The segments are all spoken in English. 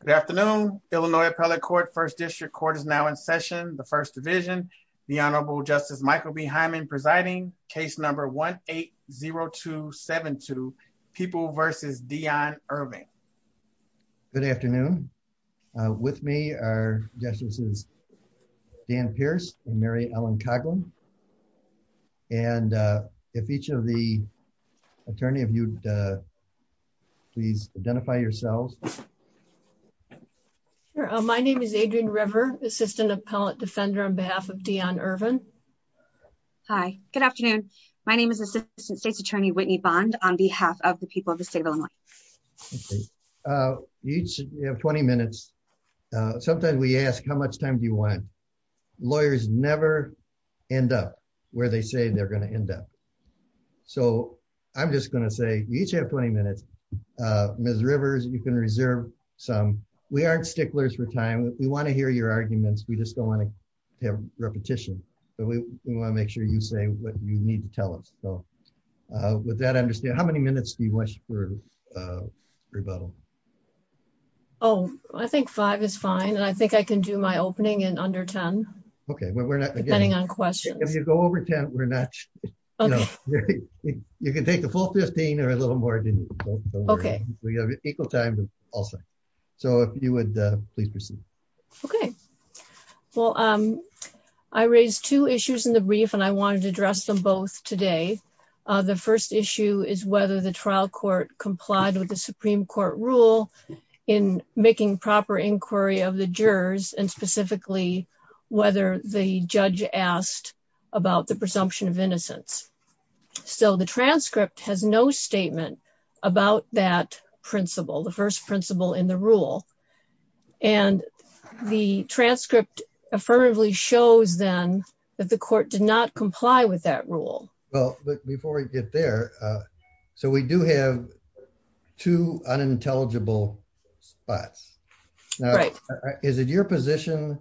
Good afternoon, Illinois Appellate Court, First District Court is now in session, the First Division. The Honorable Justice Michael B. Hyman presiding, case number 1-8-0272, People v. Dion Irving. Good afternoon, with me are Justices Dan Pierce and Mary Ellen Coghlan, and if each of the attorney of you please identify yourselves. My name is Adrienne River, Assistant Appellate Defender on behalf of Dion Irving. Hi, good afternoon, my name is Assistant State's Attorney Whitney Bond on behalf of the people of the state of Illinois. You each have 20 minutes, sometimes we ask how much time do you want? Lawyers never end up where they say they're going to end up, so I'm just going to say you each have 20 minutes. Ms. Rivers, you can reserve some. We aren't sticklers for time, we want to hear your arguments, we just don't want to have repetition, but we want to make sure you say what you need to tell us. So with that, understand how many minutes do you wish for rebuttal? Oh, I think five is fine, and I think I can do my opening in under ten. Okay, depending on questions. If you go over ten, we're not sure. You can take the full 15 or a little more. Okay. We have equal time, so if you would please proceed. Okay, well I raised two issues in the brief and I wanted to address them both today. The first issue is whether the trial court complied with the Supreme Court rule in making proper inquiry of the jurors, and specifically whether the judge asked about the presumption of innocence. So the transcript has no statement about that principle, the first principle in the rule, and the transcript affirmatively shows then that the court did not comply with that rule. Well, but before we get there, so we do have two unintelligible spots. Right. Is it your position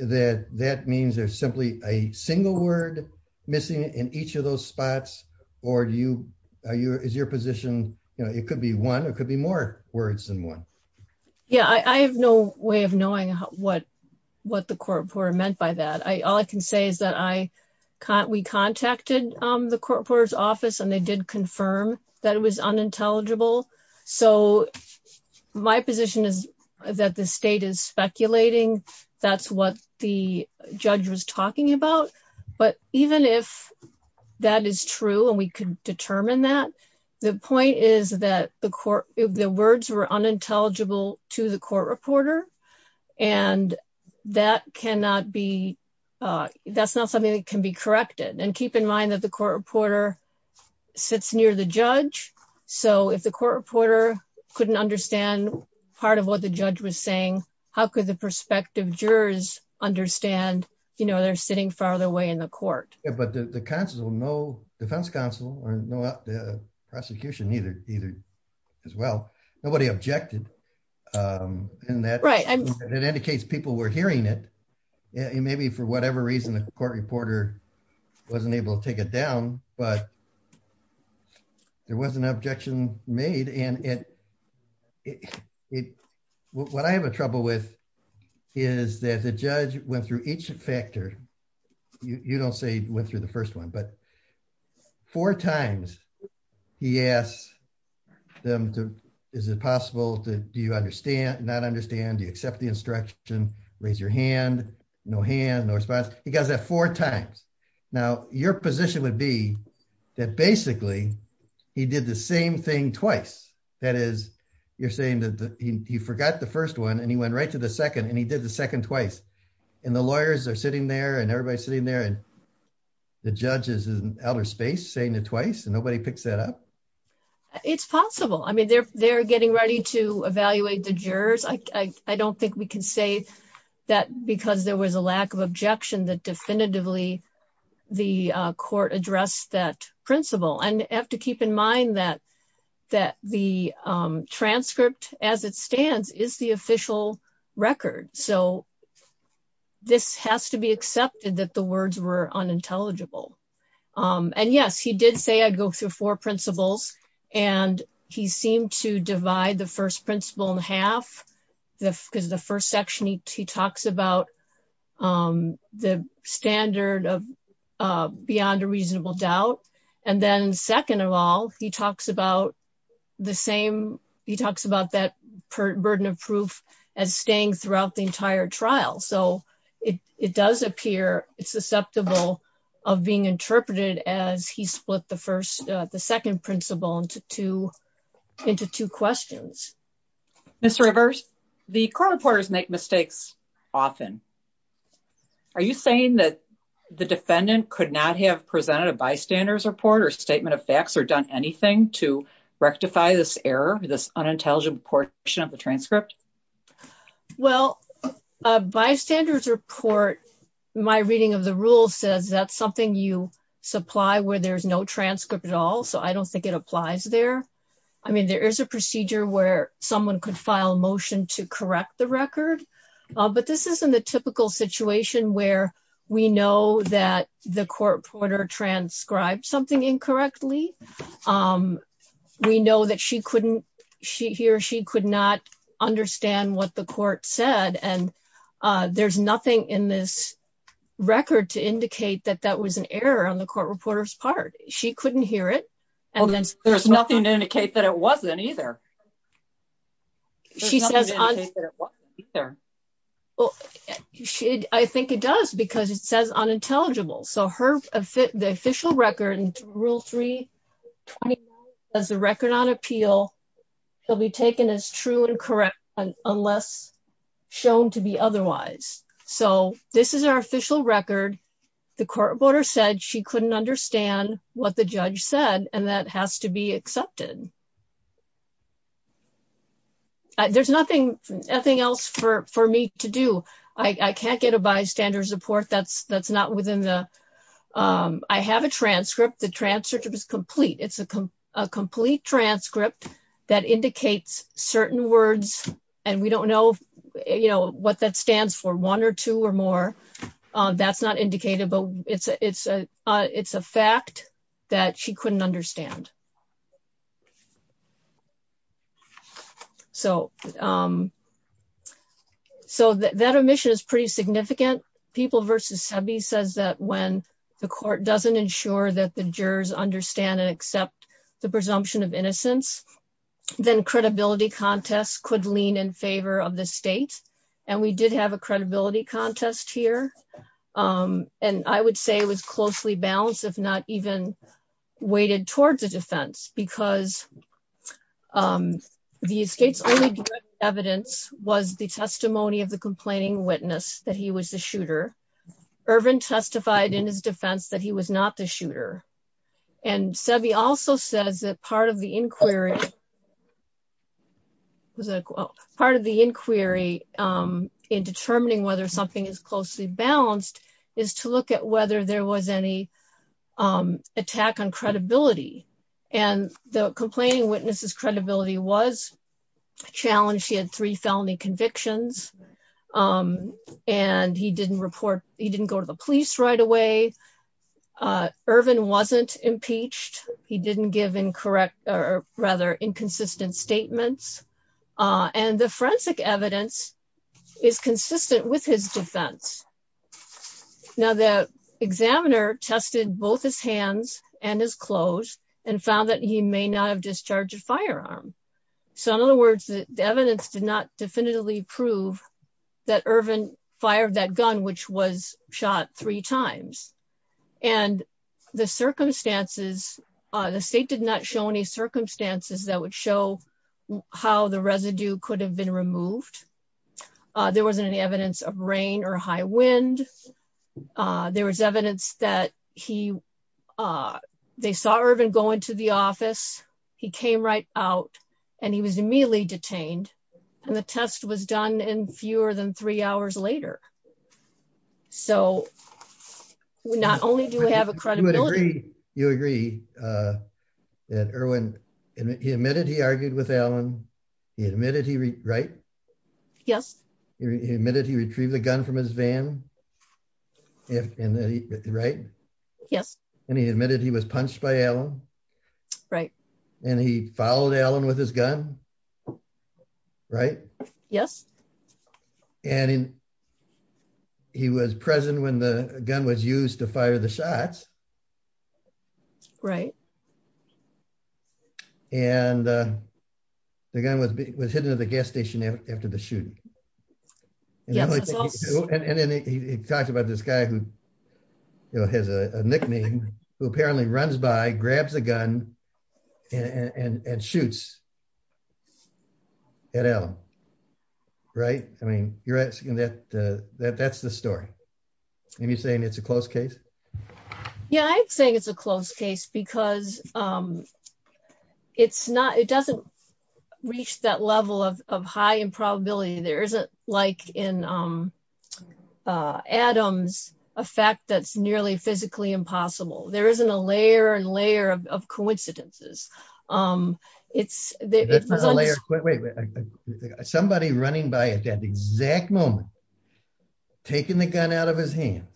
that that means there's simply a single word missing in each of those spots, or is your position, you know, it could be one, it could be more words than one? Yeah, I have no way of knowing what the court reporter meant by that. All I can say is that we contacted the unintelligible. So my position is that the state is speculating. That's what the judge was talking about. But even if that is true and we could determine that, the point is that the court, the words were unintelligible to the court reporter, and that cannot be, that's not something that can be corrected. And keep in mind that the court reporter sits near the judge. So if the court reporter couldn't understand part of what the judge was saying, how could the prospective jurors understand, you know, they're sitting farther away in the court? Yeah, but the counsel, no defense counsel, or no prosecution either, as well. Nobody objected. And that indicates people were hearing it. Maybe for whatever reason, the court reporter wasn't able to take it down. But there was an objection made. And it, it, what I have a trouble with is that the judge went through each factor. You don't say went through the first one, but four times, he asked them to, is it possible to do you understand not understand you accept the instruction, raise your hand, no hand, no response, he does that four times. Now, your position would be that basically, he did the same thing twice. That is, you're saying that you forgot the first one, and he went right to the second, and he did the second twice. And the lawyers are sitting there and everybody's sitting there. And the judges in outer space saying it twice, and nobody picks that up. It's possible. I mean, they're, they're getting ready to evaluate the jurors. I don't think we can say that because there was a lack of objection that definitively, the court addressed that principle and have to keep in mind that that the transcript as it stands is the official record. So this has to be accepted that the words were unintelligible. And yes, he did say I'd go through four principles. And he seemed to divide the first principle in the because the first section he talks about the standard of beyond a reasonable doubt. And then second of all, he talks about the same. He talks about that burden of proof as staying throughout the entire trial. So it does appear it's susceptible of being interpreted as he split the first the second principle into two into two questions. Mr. Rivers, the court reporters make mistakes often. Are you saying that the defendant could not have presented a bystanders report or statement of facts or done anything to rectify this error, this unintelligent portion of the transcript? Well, bystanders report, my reading of the rule says that's something you supply where there's no transcript at all. So I don't think it applies there. I mean, there is a procedure where someone could file a motion to correct the record. But this isn't the typical situation where we know that the court reporter transcribed something incorrectly. Um, we know that she couldn't, she or she could not understand what the court said. And there's nothing in this record to indicate that that was an error on the Kate that it wasn't either. She says, well, I think it does because it says on intelligible. So her the official record and rule three as a record on appeal will be taken as true and correct unless shown to be otherwise. So this is our official record. The court border said she couldn't understand what the judge said. And that has to be accepted. There's nothing, nothing else for, for me to do. I can't get a bystander support. That's, that's not within the, um, I have a transcript. The transcript is complete. It's a complete transcript that indicates certain words and we don't know, you know, what that stands for one or two or more. That's not indicated, but it's a, it's a, uh, it's a fact that she couldn't understand. So, um, so that, that omission is pretty significant. People versus Sebi says that when the court doesn't ensure that the jurors understand and accept the presumption of innocence, then credibility contests could lean in favor of the state. And we did have a credibility contest here. Um, and I would say it was closely balanced, if not even weighted towards a defense because, um, the state's only evidence was the testimony of the complaining witness that he was the shooter. Irvin testified in his defense that he was not the shooter. And Sebi also says that part of the inquiry was like, well, part of the inquiry, um, in determining whether something is closely balanced is to look at whether there was any, um, attack on credibility and the complaining witnesses credibility was challenged. She had three felony convictions. Um, and he didn't report, he didn't go to the police right away. Uh, Irvin wasn't impeached. He didn't give incorrect or rather inconsistent statements. Uh, and the forensic evidence is consistent with his defense. Now the examiner tested both his hands and his clothes and found that he may not have discharged a firearm. So in other words, the evidence did not definitively prove that Irvin fired that gun, which was shot three times and the circumstances, uh, the state did not show any circumstances that would show how the residue could have been removed. Uh, there wasn't any evidence of rain or high wind. Uh, there was evidence that he, uh, they saw Irvin going to the office. He came right out and he was immediately detained and the test was done in fewer than three hours later. So we not only do we have a credibility, you agree, uh, that Irwin, he admitted he argued with Alan. He admitted he, right. Yes. He admitted he retrieved the gun from his van. If, and then he, right. Yes. And he admitted he was punched by Alan. Right. And he followed Alan with his gun. Right. Yes. And in he was present when the gun was used to fire the shots. Right. And, uh, the gun was, was hidden at the gas station after the shooting. Yeah. And then he talks about this guy who has a nickname who apparently runs by grabs a gun and shoots at L right. I mean, you're asking that, uh, that that's the story. And you're saying it's a close case. Yeah. I'd say it's a close case because, um, it's not, it doesn't reach that level of, of high improbability. There isn't like in, um, uh, Adams, a fact that's nearly physically impossible. There isn't a layer and layer of, of coincidences. Um, it's somebody running by at the exact moment, taking the gun out of his hands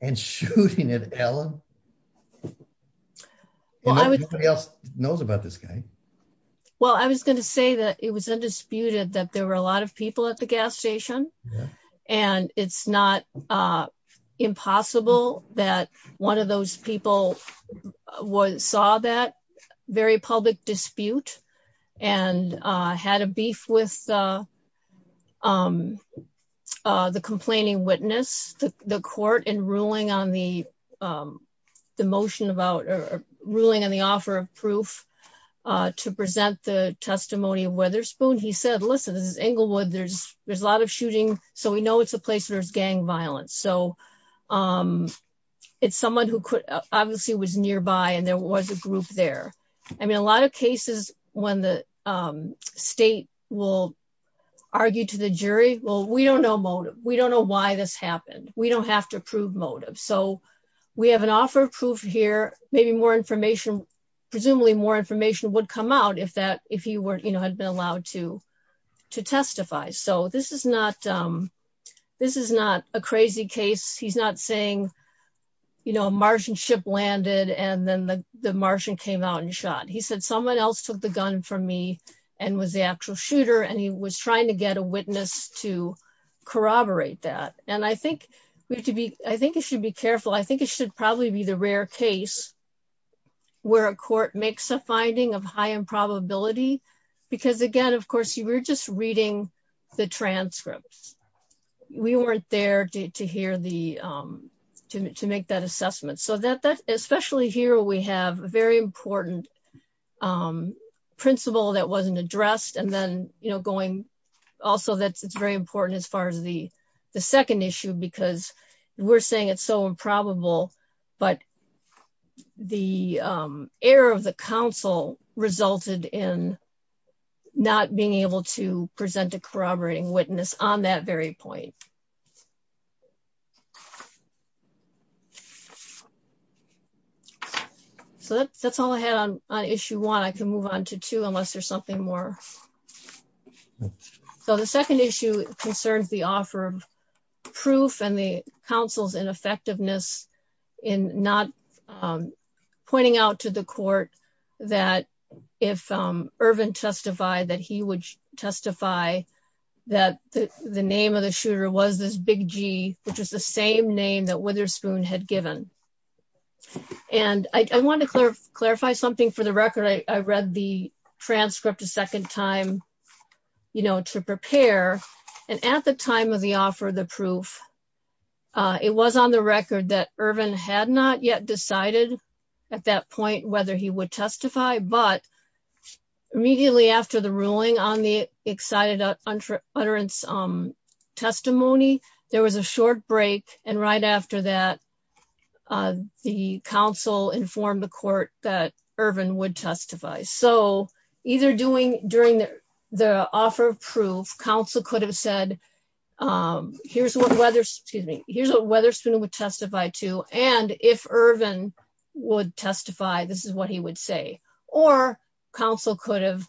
and shooting it, Alan. Well, I was nobody else knows about this guy. Well, I was going to say that it was undisputed that there were a lot of people at the gas station and it's not, uh, impossible that one of those people was, saw that very public dispute and, uh, had a beef with, uh, um, uh, the complaining witness, the court and ruling on the, um, the motion about, or ruling on the offer of proof, uh, to present the testimony of Weatherspoon. He said, listen, this is Inglewood. There's, there's a lot of shooting. So we know it's a place where there's gang violence. So, um, it's someone who obviously was nearby and there was a group there. I mean, a lot of cases when the, um, state will argue to the jury, well, we don't know motive. We don't know why this happened. We don't have to prove motive. So we have an offer of proof here. Maybe more information, presumably more information would come out if that, if you weren't, you know, had been allowed to, to testify. So this is not, um, this is not a crazy case. He's not saying, you know, a Martian ship landed and then the Martian came out and shot. He said, someone else took the gun from me and was the actual shooter. And he was trying to get a witness to corroborate that. And I think we have to be, I think it should be careful. I think it should probably be the rare case where a court makes a finding of high improbability. Because again, of course you were just reading the transcripts. We weren't there to hear the, um, to make that assessment so that that, especially here, we have a very important, um, principle that wasn't addressed and then, you know, going also, that's, it's very important as far as the, the second issue, because we're saying it's so improbable, but the, um, error of the council resulted in not being able to present a corroborating witness on that very point. So that's, that's all I had on issue one. I can move on to two unless there's something more. So the second issue concerns the offer of proof and counsel's ineffectiveness in not, um, pointing out to the court that if, um, Irvin testified that he would testify that the name of the shooter was this big G, which was the same name that Witherspoon had given. And I wanted to clarify, clarify something for the record. I read the transcript a second time, you know, to prepare. And at the time of the offer, the proof, uh, it was on the record that Irvin had not yet decided at that point, whether he would testify, but immediately after the ruling on the excited utterance, um, testimony, there was a short break. And right after that, uh, the council informed the court that Irvin would testify. So either doing during the, the offer of proof council could have said, um, here's what weather, excuse me, here's what Weatherspoon would testify to. And if Irvin would testify, this is what he would say, or council could have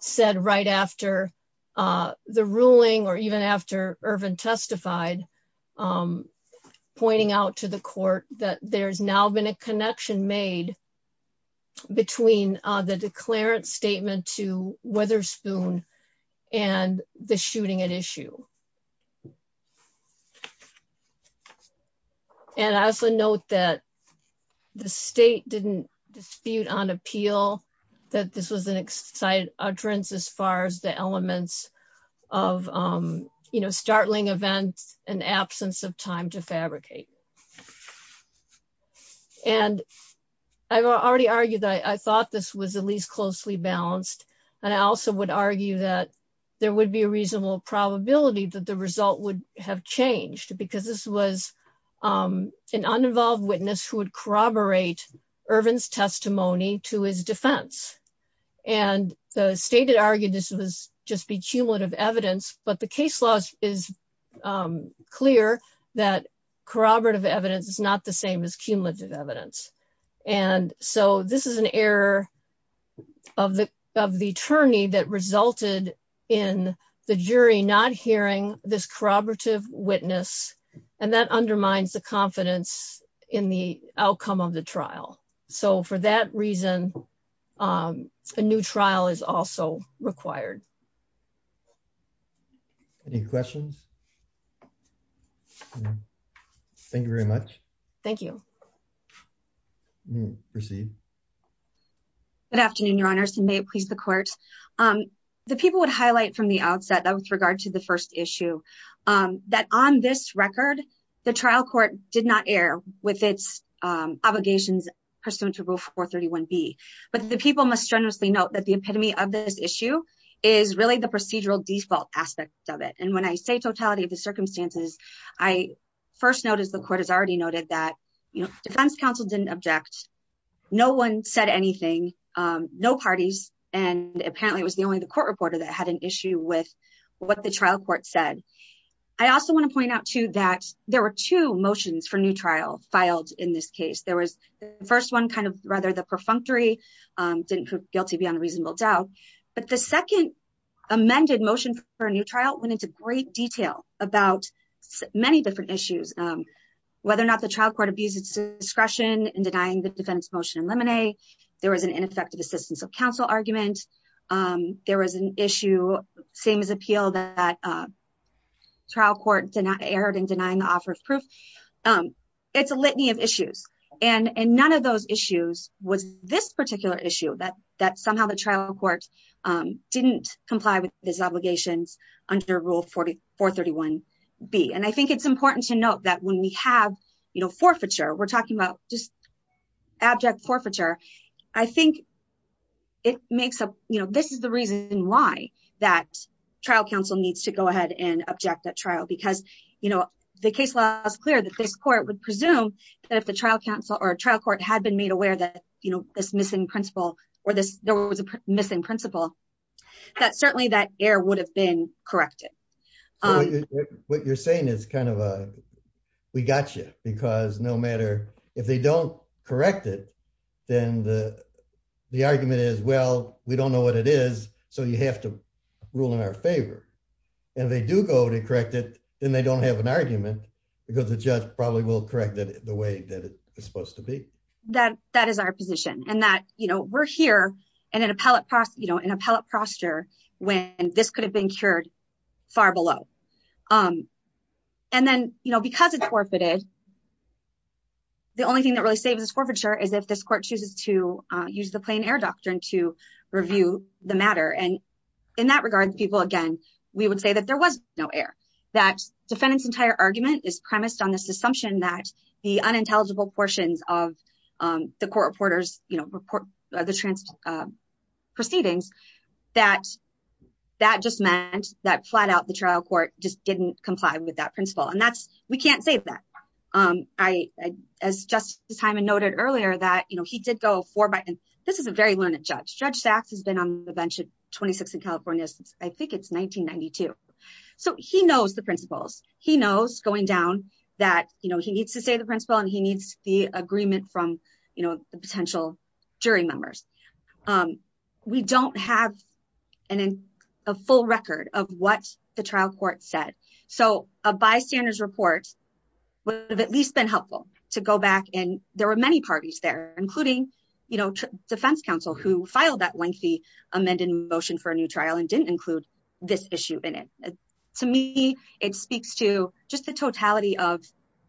said right after, uh, the ruling, or even after Irvin testified, um, pointing out to the court that there's now been a connection made between, uh, the declarant statement to Weatherspoon and the shooting at issue. And I also note that the state didn't dispute on appeal that this was an excited utterance as far as the elements of, um, you know, startling events and absence of time to fabricate. And I've already argued that I thought this was at least closely balanced. And I also would argue that there would be a reasonable probability that the result would have changed because this was, um, an uninvolved witness who would corroborate Irvin's testimony to his defense. And the state had argued this was just be cumulative evidence, but the case laws is, um, clear that corroborative evidence is not the same as cumulative evidence. And so this is an error of the, of the attorney that resulted in the jury, not hearing this corroborative witness and that undermines the confidence in the outcome of the trial. So for that reason, um, a new trial is also required. Any questions? Thank you very much. Thank you proceed. Good afternoon, your honors. And may it please the court. Um, the people would highlight from the outset that with regard to the first issue, um, that on this record, the trial court did not air with its, um, obligations pursuant to rule four 31 B, but the people must generously note that the epitome of this issue is really the procedural default aspect of it. And when I say totality of the circumstances, I first noticed the court has already noted that, you know, defense counsel didn't object. No one said anything. Um, no parties. And apparently it was the only, the court reporter that had an issue with what the trial court said. I also want to point out too, that there were two motions for new trial filed in this case. There was the first one kind of rather the perfunctory, um, didn't guilty beyond reasonable doubt, but the about many different issues. Um, whether or not the trial court abuses discretion and denying the defense motion and lemonade, there was an ineffective assistance of counsel argument. Um, there was an issue same as appeal that, uh, trial court did not air it and denying the offer of proof. Um, it's a litany of issues and, and none of those issues was this particular issue that, that somehow the trial court, um, didn't comply with his obligations under rule 431 B. And I think it's important to note that when we have, you know, forfeiture, we're talking about just abject forfeiture. I think it makes up, you know, this is the reason why that trial counsel needs to go ahead and object that trial, because, you know, the case law is clear that this court would presume that if the trial counsel or a trial court had been made aware that, you know, this missing principle or this, there was a missing principle that certainly that air would have been corrected. What you're saying is kind of a, we got you because no matter if they don't correct it, then the, the argument is, well, we don't know what it is. So you have to rule in our favor and they do go to correct it. Then they don't have an argument because the judge probably will correct it the way that it is supposed to be. That, that is our position and that, you know, we're here and an appellate process, you know, an appellate prostitute when this could have been cured far below. And then, you know, because it's forfeited, the only thing that really saves us forfeiture is if this court chooses to use the plain air doctrine to review the matter. And in that regard, people, again, we would say that there was no air that defendant's entire argument is premised on this assumption that the unintelligible portions of the court reporters, you that that just meant that flat out, the trial court just didn't comply with that principle. And that's, we can't save that. I, as Justice Hyman noted earlier that, you know, he did go for Biden. This is a very learned judge. Judge Sachs has been on the bench at 26 in California since I think it's 1992. So he knows the principles. He knows going down that, you know, he needs to say the principle and he needs the agreement from, you know, the potential jury members. We don't have a full record of what the trial court said. So a bystanders report would have at least been helpful to go back and there were many parties there, including, you know, defense counsel who filed that lengthy amended motion for a new trial and didn't include this issue in it. To me, it speaks to just the totality of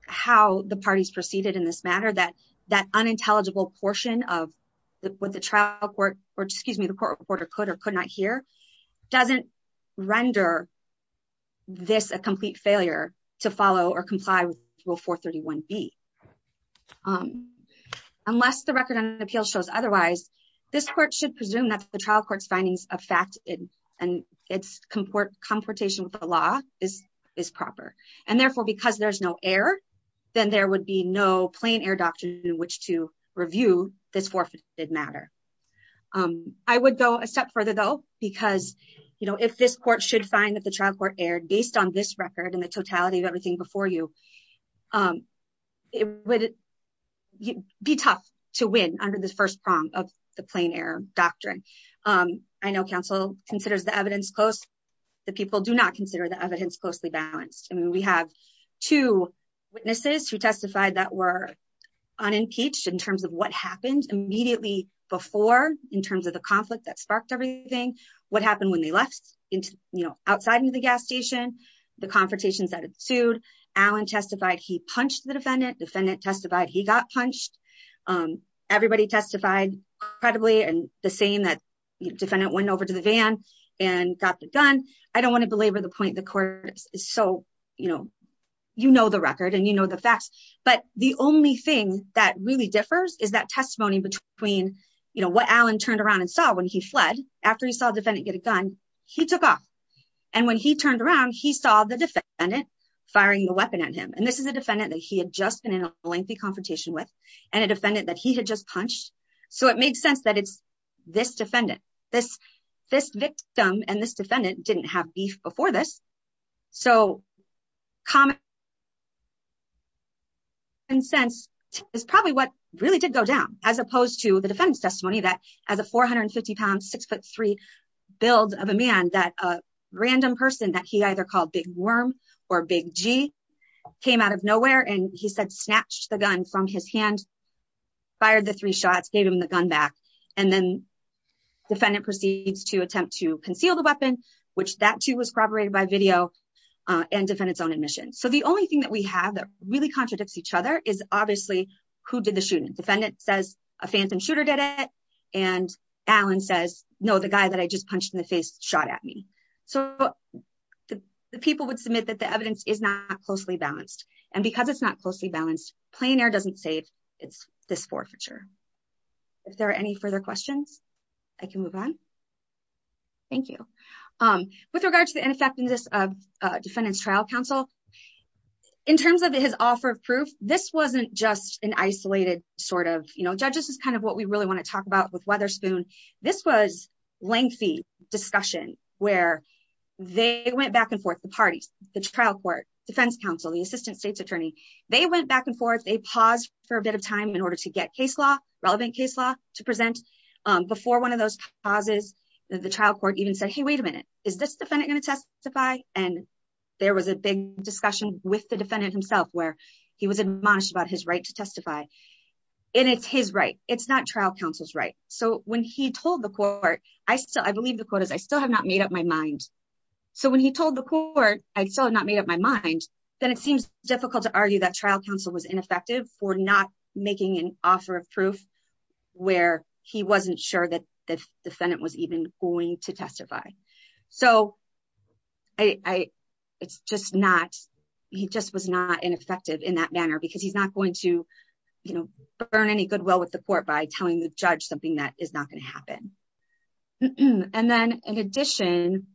how the parties proceeded in this matter that that unintelligible portion of what the trial court or excuse me, the court reporter could or could not hear doesn't render this a complete failure to follow or comply with rule 431 B. Unless the record on the appeal shows otherwise, this court should presume that the trial court's findings of fact and its comport comportation with the law is is proper. And therefore, because there's no air, then there would be no plain air doctrine in which to review this forfeited matter. I would go a step further, though, because, you know, if this court should find that the trial court aired based on this record and the totality of everything before you, it would be tough to win under the first prong of the plain air doctrine. I know counsel considers the evidence close. The people do not consider the evidence closely balanced. I mean, we have two witnesses who testified that were unimpeached in terms of what happened immediately before in terms of the conflict that sparked everything. What happened when they left, you know, outside into the gas station, the confrontations that it sued. Alan testified he punched the defendant. Defendant testified he got punched. Everybody testified credibly and the same that defendant went over to the van and got the gun. I don't want to belabor the point. The court is so, you know, you know the record and you know the facts. But the only thing that really differs is that testimony between, you know, what Alan turned around and saw when he fled after he saw a defendant get a gun, he took off. And when he turned around, he saw the defendant firing a weapon at him. And this is a defendant that he had just been in a lengthy confrontation with and a defendant that he had just defended didn't have beef before this. So common sense is probably what really did go down as opposed to the defendant's testimony that as a 450 pound six foot three build of a man that a random person that he either called Big Worm or Big G came out of nowhere and he said snatched the gun from his hand, fired the three shots, gave him the gun back. And then defendant proceeds to attempt to conceal the weapon, which that too was corroborated by video and defendants own admission. So the only thing that we have that really contradicts each other is obviously who did the shooting. Defendant says a phantom shooter did it. And Alan says, no, the guy that I just punched in the face shot at me. So the people would submit that the evidence is not closely balanced. And because it's not closely balanced, plein air doesn't say it's this forfeiture. If there are any further questions, I can move on. Thank you. With regards to the ineffectiveness of defendants trial counsel, in terms of his offer of proof, this wasn't just an isolated sort of, you know, judges is kind of what we really want to talk about with Weatherspoon. This was lengthy discussion, where they went back and forth the parties, the trial court, defense counsel, the assistant state's attorney, they went back and forth a pause for a bit of time in order to get case law, relevant case law to present. Before one of those pauses, the trial court even said, Hey, wait a minute, is this defendant going to testify. And there was a big discussion with the defendant himself where he was admonished about his right to testify. And it's his right. It's not trial counsel's right. So when he told the court, I still I believe the quote is I still have not made up my mind. So when he told the court, I still have not made up my mind, then it seems difficult to argue that trial counsel was ineffective for not making an offer of proof, where he wasn't sure that the defendant was even going to testify. So I, it's just not, he just was not ineffective in that manner, because he's not going to, you know, burn any goodwill with the court by telling the judge something that is not going to happen. And then in addition,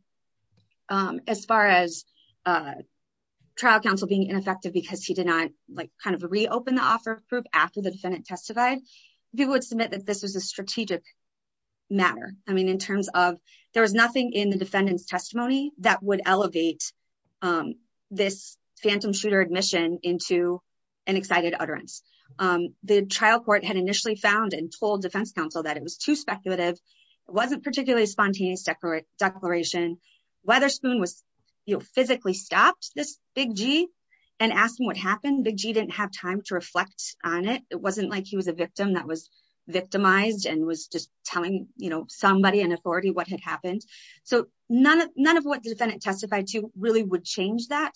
as far as trial counsel being ineffective, because he did not, like kind of reopen the offer of proof after the defendant testified, people would submit that this was a strategic matter. I mean, in terms of there was nothing in the defendant's testimony that would elevate this phantom shooter admission into an excited utterance. The trial court had initially found and told defense counsel that it was too speculative. It wasn't particularly spontaneous separate declaration. Weatherspoon was, you know, physically stopped this Big G and asked him what happened. Big G didn't have time to reflect on it. It wasn't like he was a victim that was victimized and was just telling, you know, somebody in authority what had happened. So none of none of what the defendant testified to really would change that.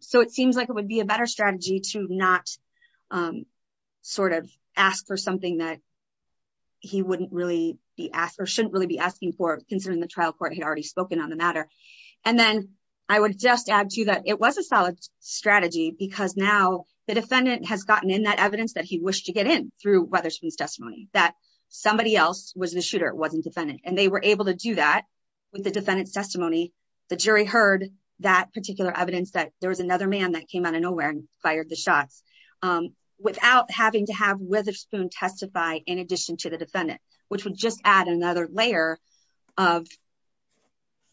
So it seems like it would be a better strategy to not sort of ask for something that he wouldn't really be asked or shouldn't really be asking for considering the trial court had already spoken on the matter. And then I would just add to that it was a solid strategy because now the defendant has gotten in that evidence that he wished to get in through Weatherspoon's testimony that somebody else was the shooter wasn't defendant and they were able to do that with the defendant's testimony. The jury heard that particular evidence that there was another man that came out of nowhere and fired the shots without having to have Witherspoon testify in addition to the defendant, which would just add another layer of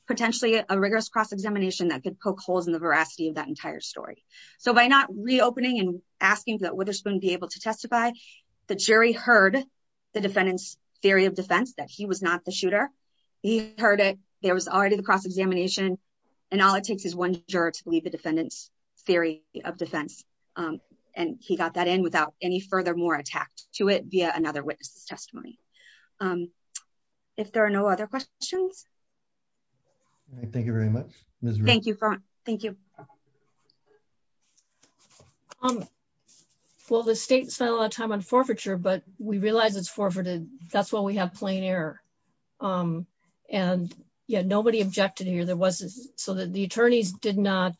potentially a rigorous cross-examination that could poke holes in the veracity of that entire story. So by not reopening and asking that Witherspoon be able to testify, the jury heard the defendant's theory of defense that he was not the shooter. He heard it. There was already the cross-examination. And all it takes is one juror to believe the defendant's theory of defense. And he got that in without any further more attacked to it via another witness testimony. If there are no other questions. Thank you very much. Thank you. Thank you. Well, the state spent a lot of time on forfeiture, but we realize it's forfeited. That's why we have plain error. And yeah, nobody objected here. There was so that the attorneys did not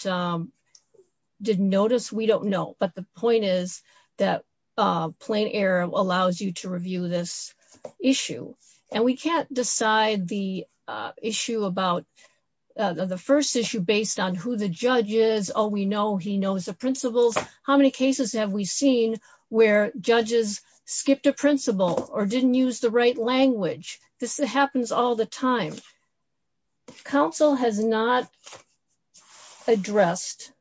did notice. We don't know. But the point is that plain error allows you to review this issue. And we can't decide the issue about the first issue based on who the judge is. Oh, we know he knows the principles. How many cases have we seen where judges skipped a principle or didn't use the right language? This happens all the time. Council has not addressed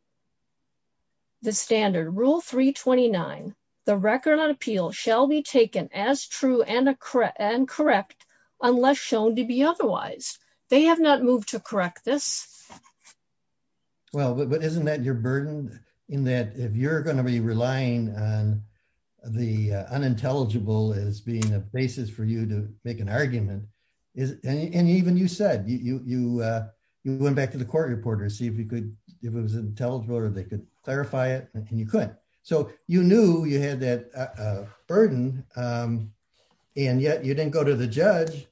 the standard rule 3 29. The record on appeal shall be taken as true and correct and correct unless shown to be otherwise. They have not moved to correct this. Well, but isn't that you're burdened in that if you're going to be relying on the unintelligible is being a basis for you to make an argument is and even you said you you went back to the court reporter see if you could if it was intelligible or they could clarify it and you could. So you knew you had that burden. And yet you didn't go to the judge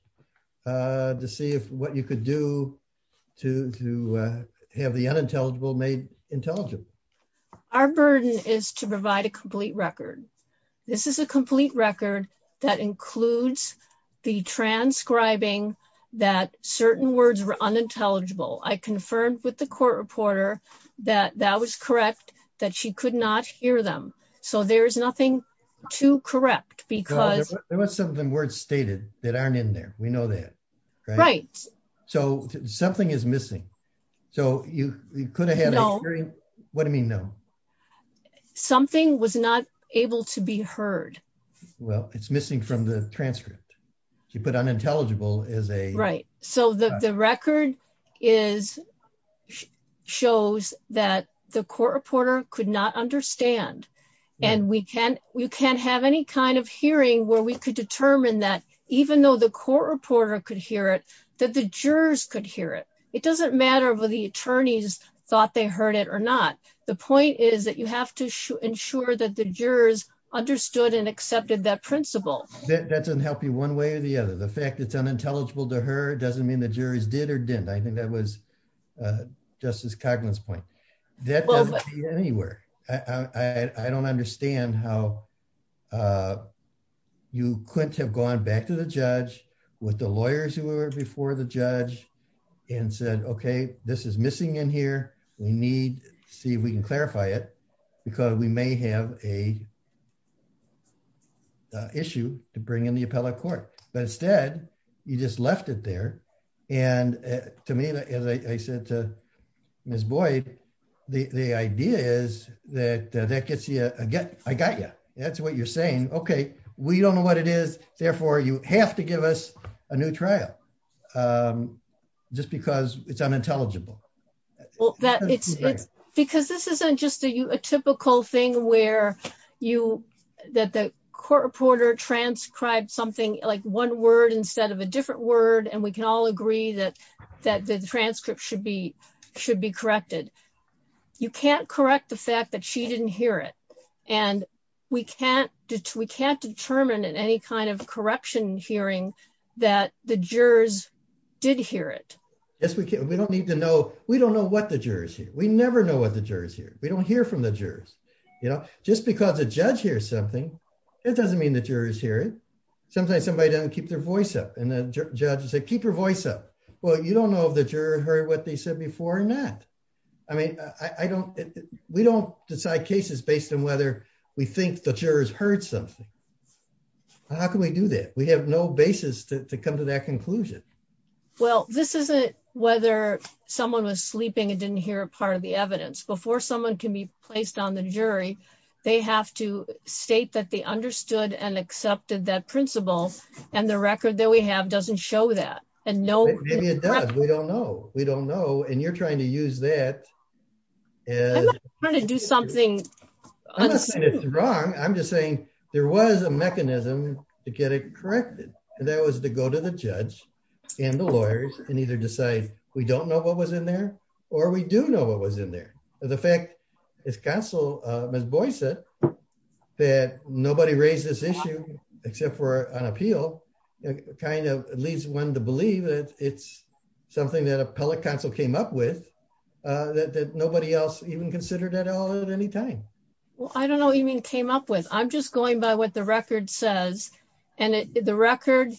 to see if what you could do to to have the unintelligible made intelligible. Our burden is to provide a complete record. This is a complete record that includes the transcribing that certain words were unintelligible. I confirmed with the court reporter that that was correct that she could not hear them. So there is nothing to correct because there was some of the words stated that aren't in there. We know that right. So something is missing. So you could have had a hearing. What do you mean? No, something was not able to be heard. Well, it's missing from the transcript. She put unintelligible is a right. So the record is shows that the court reporter could not understand. And we can't we can't have any kind of hearing where we could determine that even though the court reporter could hear it, that the jurors could hear it. It doesn't matter whether the attorneys thought they heard it or not. The point is that you have to ensure that the jurors understood and accepted that principle. That doesn't help you one way or the other. The fact it's unintelligible to her doesn't mean the jury's did or didn't. I think that was Justice Coughlin's point. That doesn't mean anywhere. I don't understand how you couldn't have gone back to the judge with the lawyers who were before the judge and said, Okay, this is missing in here. We need to see if we can clarify it because we may have a issue to bring in the appellate court. But instead, you just left it there. And to me, as I said to Miss Boyd, the idea is that that gets you again. I got you. That's what you're saying. Okay, we don't know what it is. Therefore, you have to give us a new trial. Um, just because it's unintelligible. Well, that it's because this isn't just a typical thing where you that the court reporter transcribed something like one word instead of a different word. And we can all agree that that the transcript should be should be corrected. You can't correct the fact that she didn't hear it. And we can't. We can't determine in any kind of corruption hearing that the jurors did hear it. Yes, we can. We don't need to know. We don't know what the jurors here. We never know what the jurors here. We don't hear from the jurors, you know, just because the judge here something. It doesn't mean the jurors here. Sometimes somebody doesn't keep their voice up and the judge said, keep your voice up. Well, you don't know if the juror heard what they said before or not. I mean, I don't. We don't decide cases based on whether we think the jurors heard something. How can we do that? We have no basis to come to that conclusion. Well, this isn't whether someone was sleeping and didn't hear a part of the evidence before someone can be placed on the jury. They have to state that they record that we have doesn't show that. And no, maybe it does. We don't know. We don't know. And you're trying to use that is trying to do something wrong. I'm just saying there was a mechanism to get it corrected. And that was to go to the judge and the lawyers and either decide we don't know what was in there or we do know what was in there. The fact is Council Miss Boy said that nobody raised this issue except for an appeal kind of leads one to believe that it's something that appellate counsel came up with that nobody else even considered at all at any time. Well, I don't know. You mean came up with? I'm just going by what the record says. And the record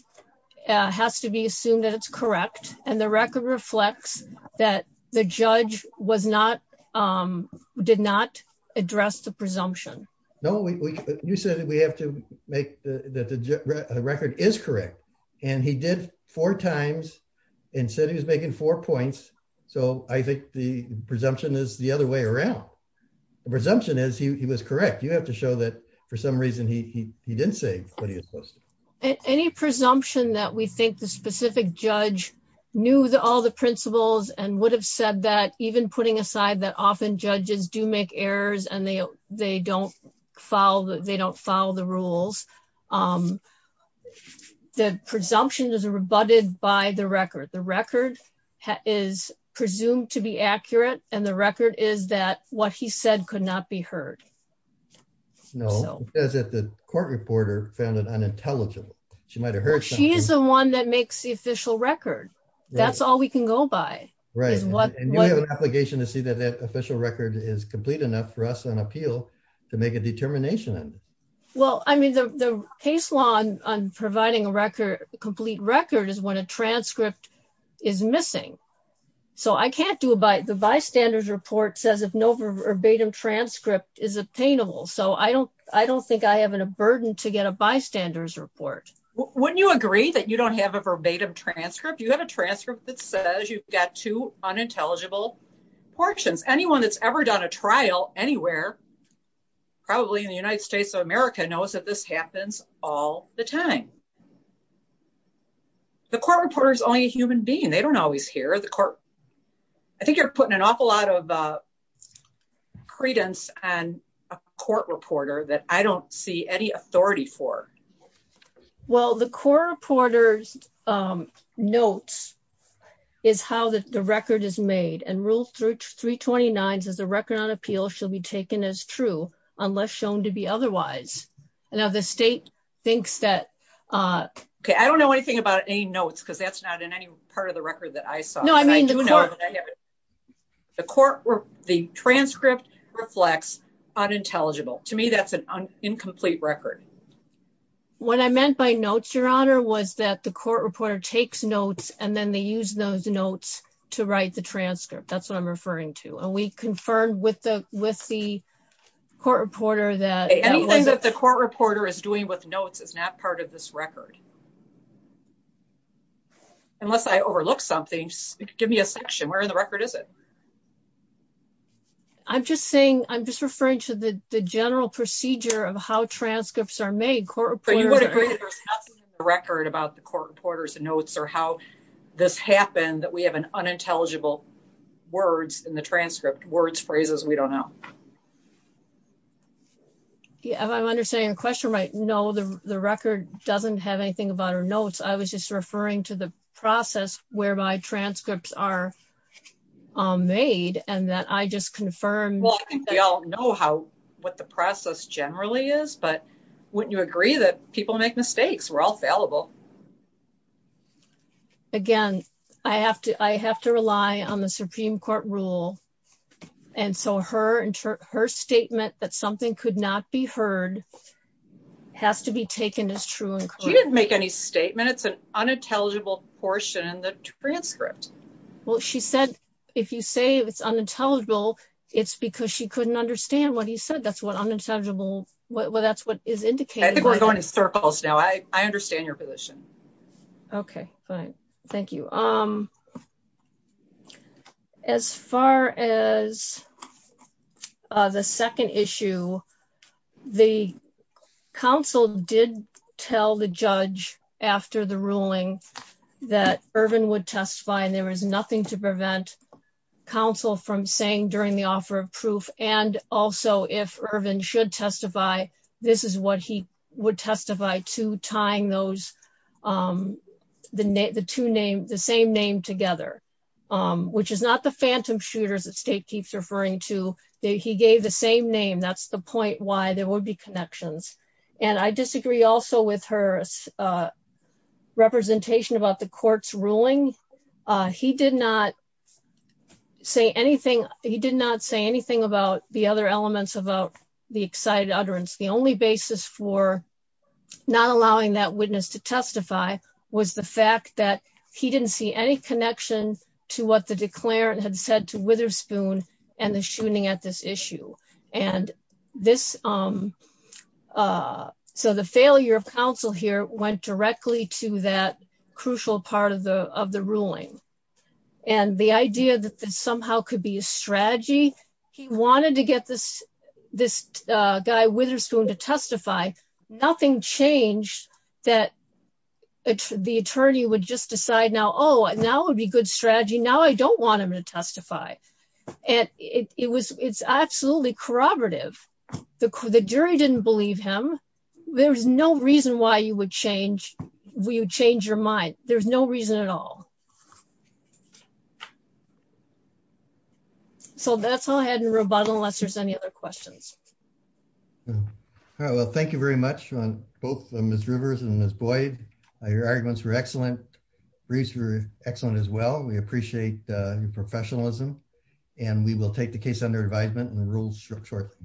has to be assumed that it's correct. And the record reflects that the judge was not did not address the presumption. No, you said that we have to make the record is correct. And he did four times and said he was making four points. So I think the presumption is the other way around. The presumption is he was correct. You have to show that for some reason he didn't say what he was supposed to. Any presumption that we think the specific judge knew that all the principles and would have said that even putting aside that often judges do make errors and they they don't follow that they don't follow the rules. Um, the presumption is rebutted by the record. The record is presumed to be accurate. And the record is that what he said could not be heard. No, as it the court reporter found it unintelligible. She might have heard. She is the one that makes the official record. That's all we can go by. Right. And you have an obligation to see that that official record is complete enough for us on appeal to make a determination. Well, I mean, the case law on providing a record complete record is when a transcript is missing. So I can't do it by the bystanders report says if no verbatim transcript is obtainable. So I don't I don't think I have a burden to get a bystanders report. Wouldn't you agree that you don't have a verbatim transcript? You have a transcript that says you've got two unintelligible portions. Anyone that's ever done a trial anywhere, probably in the United States of America knows that this happens all the time. The court reporter is only a human being. They don't always hear the court. I think you're putting an awful lot of well, the core reporter's, um, notes is how the record is made and ruled through 3 29 is a record on appeal. She'll be taken as true unless shown to be otherwise. Now the state thinks that, uh, I don't know anything about any notes because that's not in any part of the record that I saw. No, I mean, the court, the court were the transcript reflects unintelligible. To me, that's an incomplete record. What I meant by notes, Your Honor, was that the court reporter takes notes and then they use those notes to write the transcript. That's what I'm referring to. And we confirmed with the with the court reporter that anything that the court reporter is doing with notes is not part of this record unless I overlook something. Give me a section. Where in the record is it? I'm just saying I'm just referring to the general procedure of how transcripts are made record about the court reporter's notes or how this happened, that we have an unintelligible words in the transcript words, phrases we don't know. Yeah, I'm understanding the question. Right? No, the record doesn't have anything about her notes. I was just referring to the process whereby transcripts are made and that I just confirmed. We all know how what the process generally is. But wouldn't you agree that people make mistakes? We're all fallible. Again, I have to I have to rely on the Supreme Court rule. And so her and her statement that something could not be heard has to be taken as true. She didn't make any statement. It's an unintelligible portion in the transcript. Well, she said, if you say it's unintelligible, it's because she couldn't understand what he said. That's what understandable. Well, that's what is indicating. We're going to circles now. I understand your position. Okay, fine. Thank you. Um, as far as the second issue, the council did tell the judge after the ruling that urban would testify and there was nothing to prevent council from saying during the offer of proof. And also, if urban should testify, this is what he would testify to tying those, um, the two names, the same name together, which is not the phantom shooters that state keeps referring to. He gave the same name. That's the point why there would be connections. And I disagree also with her, uh, representation about the court's ruling. Uh, he did not say anything. He did not say anything about the other elements about the excited utterance. The only basis for not allowing that witness to testify was the fact that he didn't see any connection to what the declarant had said to Witherspoon and the shooting at this issue. And this, um, uh, so the failure of council here went directly to that crucial part of the of the could be a strategy. He wanted to get this, this, uh, guy Witherspoon to testify. Nothing changed that the attorney would just decide now. Oh, now it would be good strategy. Now I don't want him to testify. And it was, it's absolutely corroborative. The jury didn't believe him. There's no reason why you would change. We would change your mind. There's no reason at all. So that's all I had in rebuttal. Unless there's any other questions. Yeah. All right. Well, thank you very much on both Miss Rivers and Miss Boyd. Your arguments were excellent. Research. Excellent as well. We appreciate your professionalism and we will take the case under advisement and the rules short shortly.